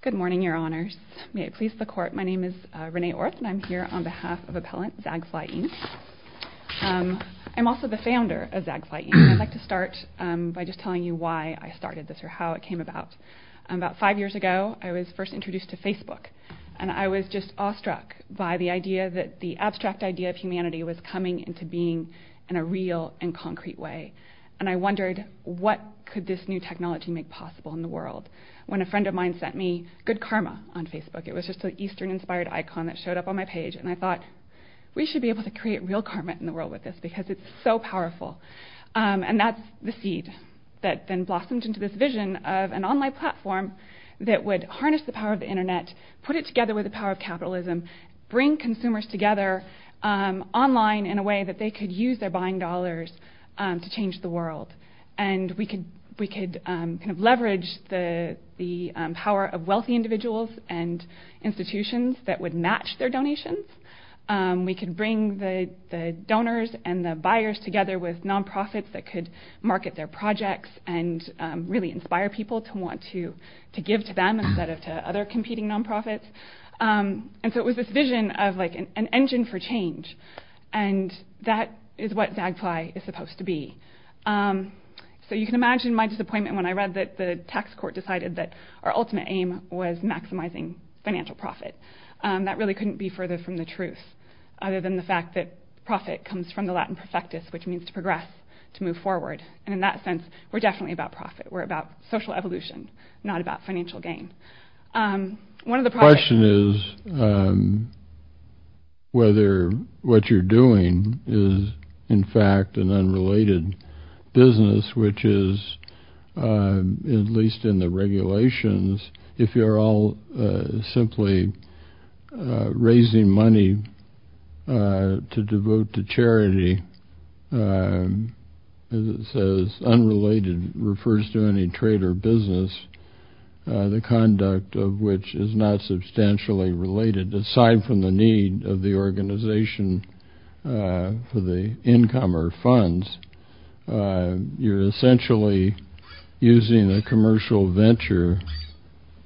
Good morning, Your Honors. May it please the Court, my name is Renee Orth and I'm here on behalf of Appellant Zagfly, Inc. I'm also the founder of Zagfly, Inc. I'd like to start by just telling you why I started this or how it came about. About five years ago, I was first introduced to Facebook, and I was just awestruck by the idea that the abstract idea of humanity was coming into being in a real and concrete way. And I wondered what could this new technology make possible in the world when a friend of mine sent me Good Karma on Facebook. It was just an Eastern-inspired icon that showed up on my page, and I thought, we should be able to create real karma in the world with this because it's so powerful. And that's the seed that then blossomed into this vision of an online platform that would harness the power of the Internet, put it together with the power of capitalism, bring consumers together online in a way that they could use their buying dollars to change the world. And we could leverage the power of wealthy individuals and institutions that would match their donations. We could bring the donors and the buyers together with nonprofits that could market their projects and really inspire people to want to give to them instead of to other competing nonprofits. And so it was this vision of an engine for change, and that is what Zagfly is supposed to be. So you can imagine my disappointment when I read that the tax court decided that our ultimate aim was maximizing financial profit. That really couldn't be further from the truth other than the fact that profit comes from the Latin perfectus, which means to progress, to move forward. And in that sense, we're definitely about profit. We're about social evolution, not about financial gain. The question is whether what you're doing is, in fact, an unrelated business, which is, at least in the regulations, if you're all simply raising money to devote to charity, as it says, unrelated refers to any trade or business, the conduct of which is not substantially related, aside from the need of the organization for the income or funds. You're essentially using a commercial venture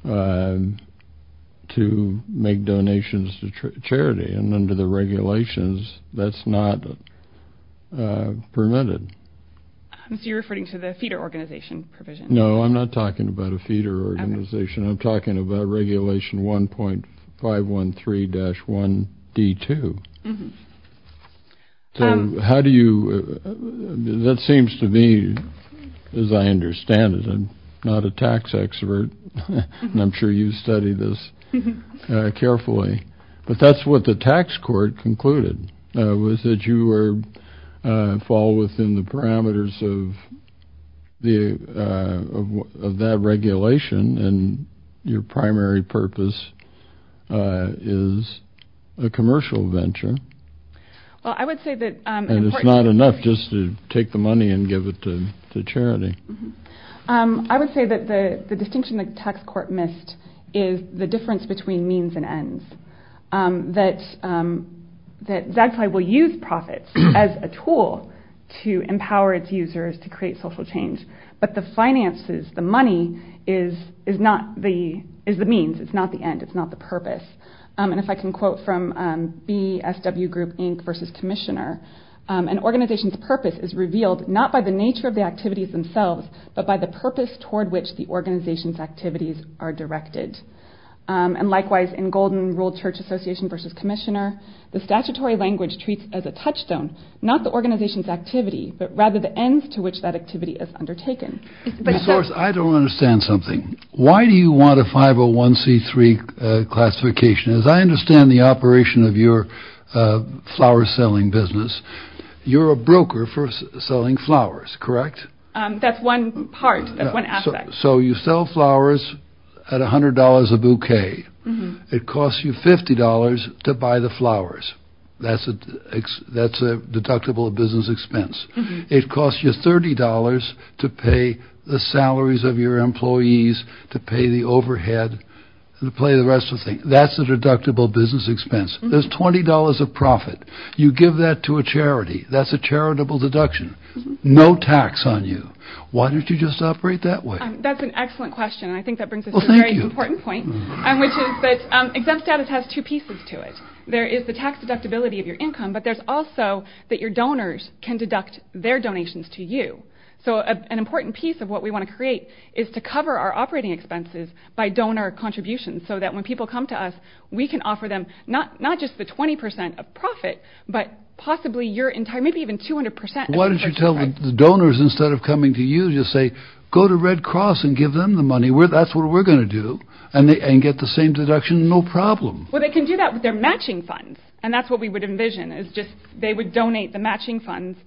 to make donations to charity, and under the regulations, that's not permitted. So you're referring to the feeder organization provision? No, I'm not talking about a feeder organization. I'm talking about Regulation 1.513-1D2. That seems to me, as I understand it, I'm not a tax expert, and I'm sure you've studied this carefully, but that's what the tax court concluded, was that you fall within the parameters of that regulation, and your primary purpose is a commercial venture. And it's not enough just to take the money and give it to charity. I would say that the distinction the tax court missed is the difference between means and ends. That Zagfi will use profits as a tool to empower its users to create social change, but the finances, the money, is the means, it's not the end, it's not the purpose. And if I can quote from B.S.W. Group Inc. v. Commissioner, an organization's purpose is revealed not by the nature of the activities themselves, but by the purpose toward which the organization's activities are directed. And likewise, in Golden Rule Church Association v. Commissioner, the statutory language treats as a touchstone, not the organization's activity, but rather the ends to which that activity is undertaken. I don't understand something. Why do you want a 501c3 classification? As I understand the operation of your flower-selling business, you're a broker for selling flowers, correct? That's one part, that's one aspect. So you sell flowers at $100 a bouquet. It costs you $50 to buy the flowers. That's a deductible business expense. It costs you $30 to pay the salaries of your employees, to pay the overhead, and to pay the rest of the things. That's a deductible business expense. There's $20 of profit. You give that to a charity. That's a charitable deduction. No tax on you. Why don't you just operate that way? That's an excellent question, and I think that brings us to a very important point, which is that exempt status has two pieces to it. There is the tax deductibility of your income, but there's also that your donors can deduct their donations to you. So an important piece of what we want to create is to cover our operating expenses by donor contributions, so that when people come to us, we can offer them not just the 20% of profit, but possibly your entire, maybe even 200% of your tax credit. Why don't you tell the donors, instead of coming to you, you say, go to Red Cross and give them the money. That's what we're going to do, and get the same deduction, no problem. Well, they can do that with their matching funds, and that's what we would envision, is just they would donate the matching funds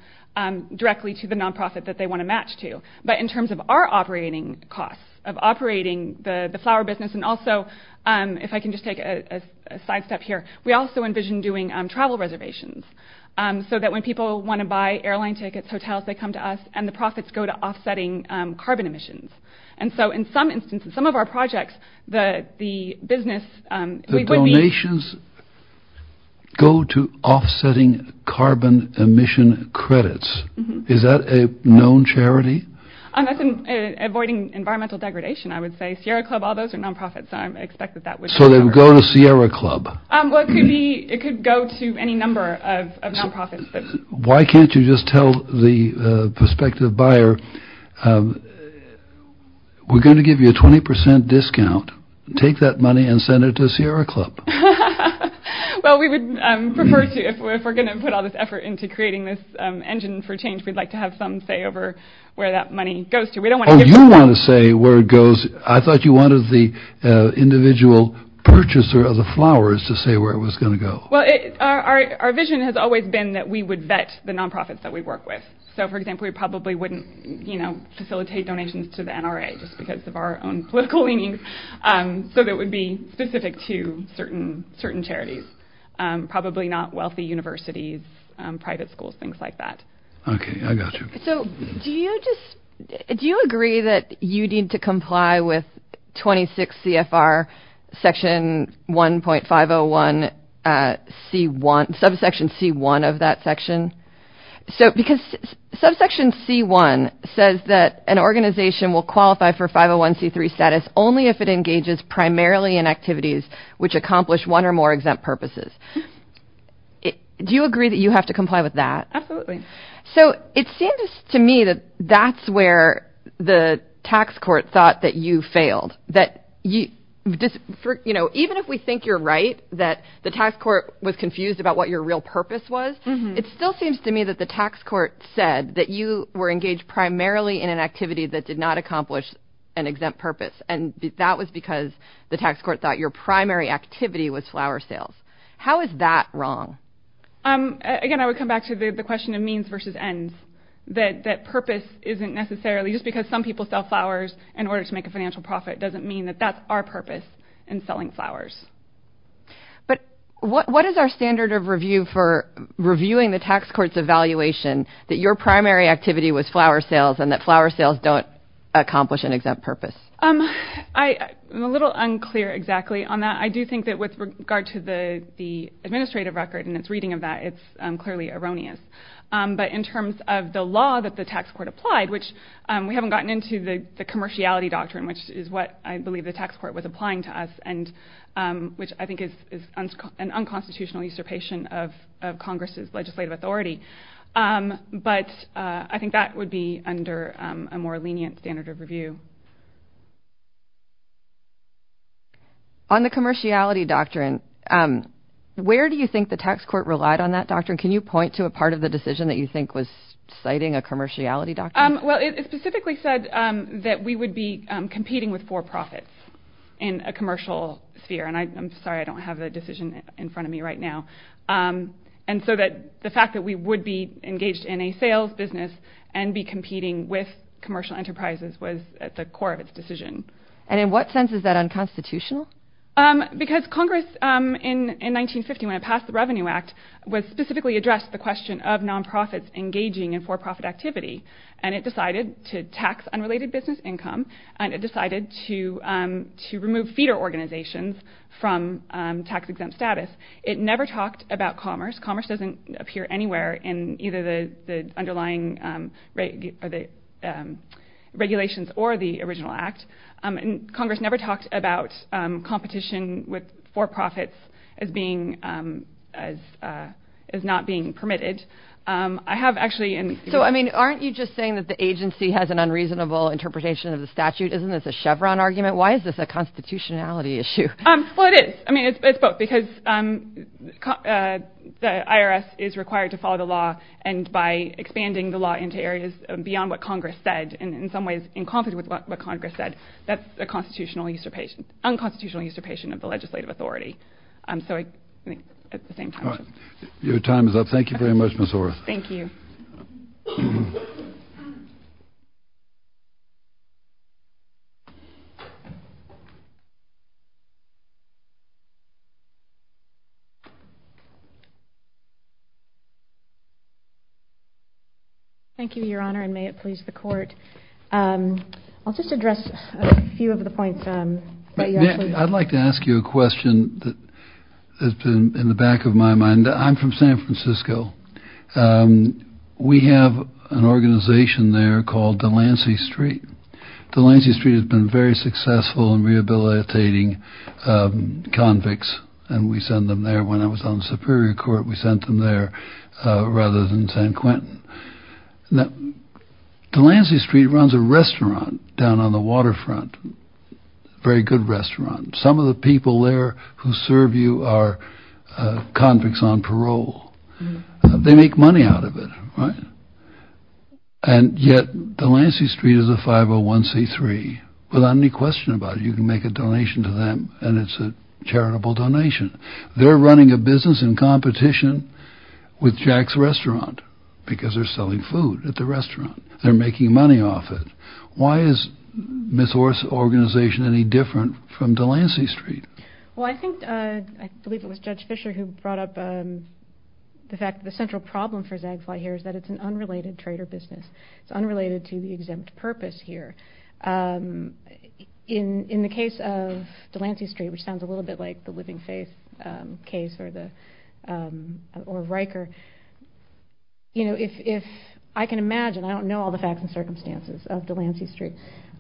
directly to the nonprofit that they want to match to. But in terms of our operating costs, of operating the flower business, and also, if I can just take a sidestep here, we also envision doing travel reservations, so that when people want to buy airline tickets, hotels, they come to us, and the profits go to offsetting carbon emissions. And so in some instances, some of our projects, the business would be... The donations go to offsetting carbon emission credits. Is that a known charity? That's avoiding environmental degradation, I would say. Sierra Club, all those are nonprofits, so I expect that that would... So they would go to Sierra Club. Well, it could be, it could go to any number of nonprofits. Why can't you just tell the prospective buyer, we're going to give you a 20% discount. Take that money and send it to Sierra Club. Well, we would prefer to, if we're going to put all this effort into creating this engine for change, we'd like to have some say over where that money goes to. Oh, you want to say where it goes. I thought you wanted the individual purchaser of the flowers to say where it was going to go. Well, our vision has always been that we would vet the nonprofits that we work with. So, for example, we probably wouldn't facilitate donations to the NRA just because of our own political leanings. So that would be specific to certain charities. Probably not wealthy universities, private schools, things like that. Okay, I got you. So do you agree that you need to comply with 26 CFR Section 1.501C1, subsection C1 of that section? Because subsection C1 says that an organization will qualify for 501C3 status only if it engages primarily in activities which accomplish one or more exempt purposes. Do you agree that you have to comply with that? Absolutely. So it seems to me that that's where the tax court thought that you failed. Even if we think you're right, that the tax court was confused about what your real purpose was, it still seems to me that the tax court said that you were engaged primarily in an activity that did not accomplish an exempt purpose, and that was because the tax court thought your primary activity was flower sales. How is that wrong? Again, I would come back to the question of means versus ends, that purpose isn't necessarily just because some people sell flowers in order to make a financial profit doesn't mean that that's our purpose in selling flowers. But what is our standard of review for reviewing the tax court's evaluation that your primary activity was flower sales and that flower sales don't accomplish an exempt purpose? I'm a little unclear exactly on that. I do think that with regard to the administrative record and its reading of that, it's clearly erroneous. But in terms of the law that the tax court applied, which we haven't gotten into the commerciality doctrine, which is what I believe the tax court was applying to us, which I think is an unconstitutional usurpation of Congress's legislative authority. But I think that would be under a more lenient standard of review. On the commerciality doctrine, where do you think the tax court relied on that doctrine? Can you point to a part of the decision that you think was citing a commerciality doctrine? Well, it specifically said that we would be competing with for-profits in a commercial sphere. And I'm sorry, I don't have the decision in front of me right now. And so the fact that we would be engaged in a sales business and be competing with commercial enterprises was at the core of its decision. And in what sense is that unconstitutional? Because Congress in 1950, when it passed the Revenue Act, specifically addressed the question of non-profits engaging in for-profit activity. And it decided to tax unrelated business income, and it decided to remove feeder organizations from tax-exempt status. It never talked about commerce. Commerce doesn't appear anywhere in either the underlying regulations or the original act. Congress never talked about competition with for-profits as not being permitted. So, I mean, aren't you just saying that the agency has an unreasonable interpretation of the statute? Isn't this a Chevron argument? Why is this a constitutionality issue? Well, it is. I mean, it's both, because the IRS is required to follow the law, and by expanding the law into areas beyond what Congress said, and in some ways in conflict with what Congress said, that's a unconstitutional usurpation of the legislative authority. So I think at the same time. Your time is up. Thank you very much, Ms. Orr. Thank you. Thank you, Your Honor, and may it please the Court. I'll just address a few of the points that you actually raised. I'd like to ask you a question that has been in the back of my mind. I'm from San Francisco. We have an organization there called Delancey Street. Delancey Street has been very successful in rehabilitating convicts, and we send them there. When I was on the Superior Court, we sent them there rather than San Quentin. Delancey Street runs a restaurant down on the waterfront, a very good restaurant. Some of the people there who serve you are convicts on parole. They make money out of it, right? And yet Delancey Street is a 501c3 without any question about it. You can make a donation to them, and it's a charitable donation. They're running a business in competition with Jack's Restaurant because they're selling food at the restaurant. They're making money off it. Why is Ms. Orr's organization any different from Delancey Street? Well, I think, I believe it was Judge Fisher who brought up the fact that the central problem for Zagfly here is that it's an unrelated trade or business. It's unrelated to the exempt purpose here. In the case of Delancey Street, which sounds a little bit like the Living Faith case or the Riker, you know, if I can imagine, I don't know all the facts and circumstances of Delancey Street,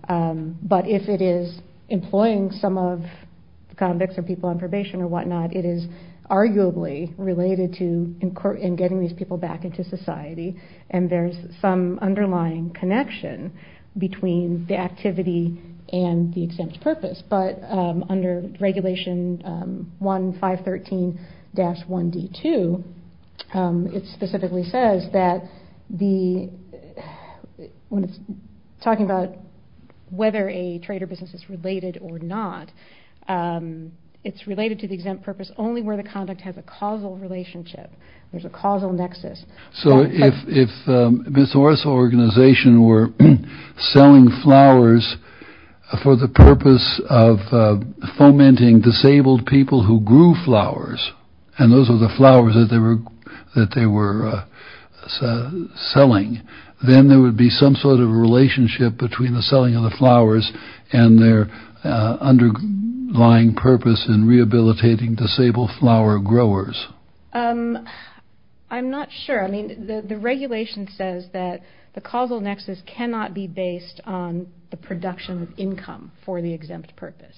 but if it is employing some of the convicts or people on probation or whatnot, it is arguably related to getting these people back into society, and there's some underlying connection between the activity and the exempt purpose. But under Regulation 1513-1D2, it specifically says that the, when it's talking about whether a trade or business is related or not, it's related to the exempt purpose only where the conduct has a causal relationship, there's a causal nexus. So if Ms. Orr's organization were selling flowers for the purpose of fomenting disabled people who grew flowers, and those were the flowers that they were selling, then there would be some sort of relationship between the selling of the flowers and their underlying purpose in rehabilitating disabled flower growers. I'm not sure. I mean, the regulation says that the causal nexus cannot be based on the production of income for the exempt purpose,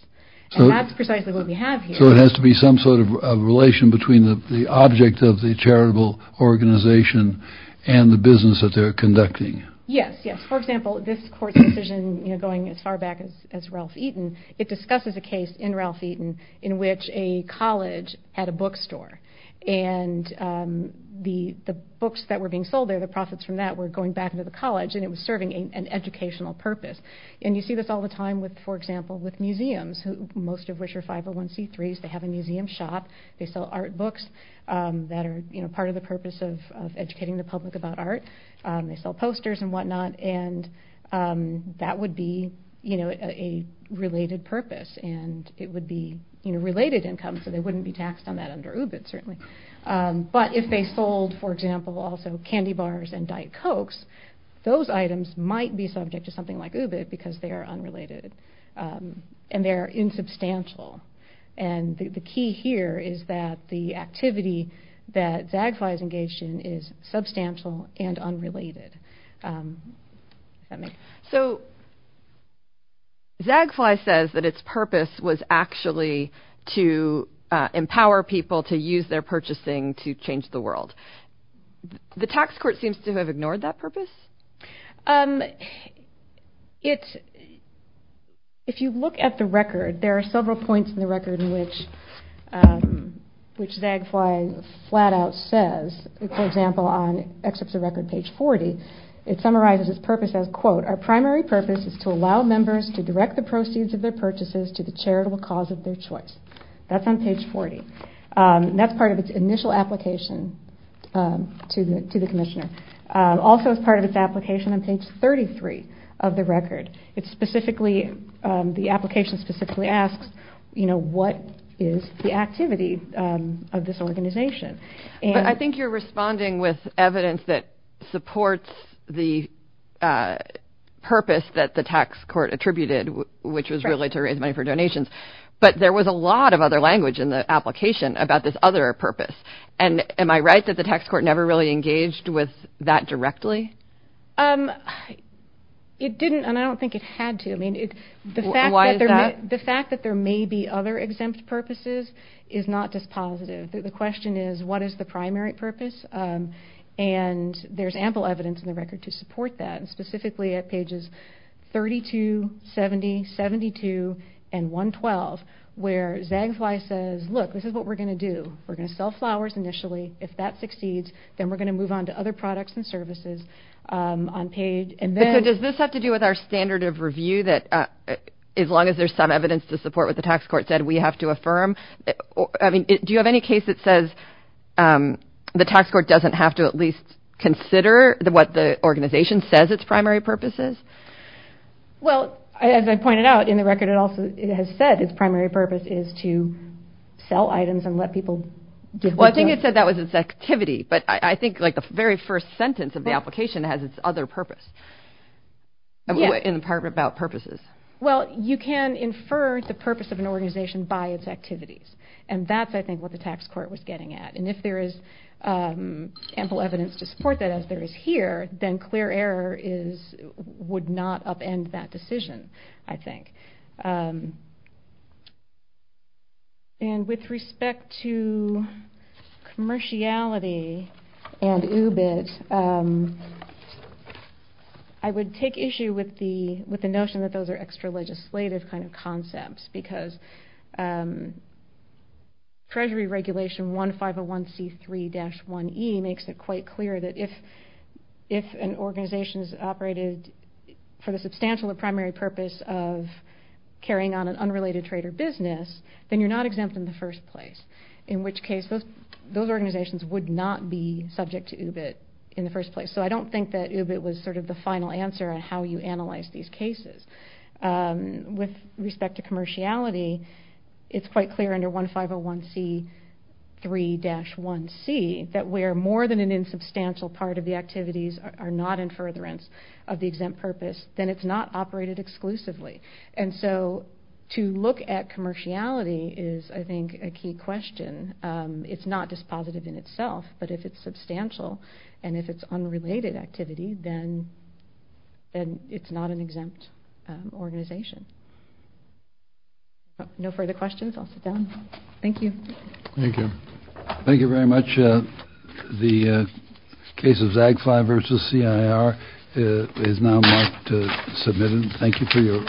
and that's precisely what we have here. So it has to be some sort of relation between the object of the charitable organization and the business that they're conducting. Yes, yes. For example, this court's decision going as far back as Ralph Eaton, it discusses a case in Ralph Eaton in which a college had a bookstore, and the books that were being sold there, the profits from that, were going back into the college, and it was serving an educational purpose. And you see this all the time, for example, with museums, most of which are 501c3s. They have a museum shop. They sell art books that are part of the purpose of educating the public about art. They sell posters and whatnot. And that would be a related purpose, and it would be related income, so they wouldn't be taxed on that under UBIT, certainly. But if they sold, for example, also candy bars and Diet Cokes, those items might be subject to something like UBIT because they are unrelated and they are insubstantial. And the key here is that the activity that Zagfly is engaged in is substantial and unrelated. So Zagfly says that its purpose was actually to empower people to use their purchasing to change the world. If you look at the record, there are several points in the record which Zagfly flat out says. For example, on excerpts of record page 40, it summarizes its purpose as, quote, our primary purpose is to allow members to direct the proceeds of their purchases to the charitable cause of their choice. That's on page 40. That's part of its initial application to the commissioner. Also, it's part of its application on page 33 of the record. It specifically, the application specifically asks, you know, what is the activity of this organization. But I think you're responding with evidence that supports the purpose that the tax court attributed, which was really to raise money for donations. But there was a lot of other language in the application about this other purpose. And am I right that the tax court never really engaged with that directly? It didn't, and I don't think it had to. Why is that? The fact that there may be other exempt purposes is not just positive. The question is, what is the primary purpose? And there's ample evidence in the record to support that, specifically at pages 32, 70, 72, and 112 where Zagfly says, look, this is what we're going to do. We're going to sell flowers initially. If that succeeds, then we're going to move on to other products and services on page. So does this have to do with our standard of review, that as long as there's some evidence to support what the tax court said, we have to affirm? Do you have any case that says the tax court doesn't have to at least consider what the organization says its primary purpose is? Well, as I pointed out in the record, it has said its primary purpose is to sell items and let people get what they want. Well, I think it said that was its activity, but I think the very first sentence of the application has its other purpose. In part about purposes. Well, you can infer the purpose of an organization by its activities, and that's, I think, what the tax court was getting at. And if there is ample evidence to support that, as there is here, then clear error would not upend that decision, I think. And with respect to commerciality and UBIT, I would take issue with the notion that those are extra-legislative kind of concepts because Treasury Regulation 1501C3-1E makes it quite clear that if an organization is operated for the substantial or primary purpose of carrying on an unrelated trade or business, then you're not exempt in the first place, in which case those organizations would not be subject to UBIT in the first place. So I don't think that UBIT was sort of the final answer on how you analyze these cases. With respect to commerciality, it's quite clear under 1501C3-1C that where more than an insubstantial part of the activities are not in furtherance of the exempt purpose, then it's not operated exclusively. And so to look at commerciality is, I think, a key question. It's not dispositive in itself, but if it's substantial and if it's unrelated activity, then it's not an exempt organization. No further questions? I'll sit down. Thank you. Thank you. Thank you very much. The case of Zagfly versus CIR is now marked submitted. Thank you for your...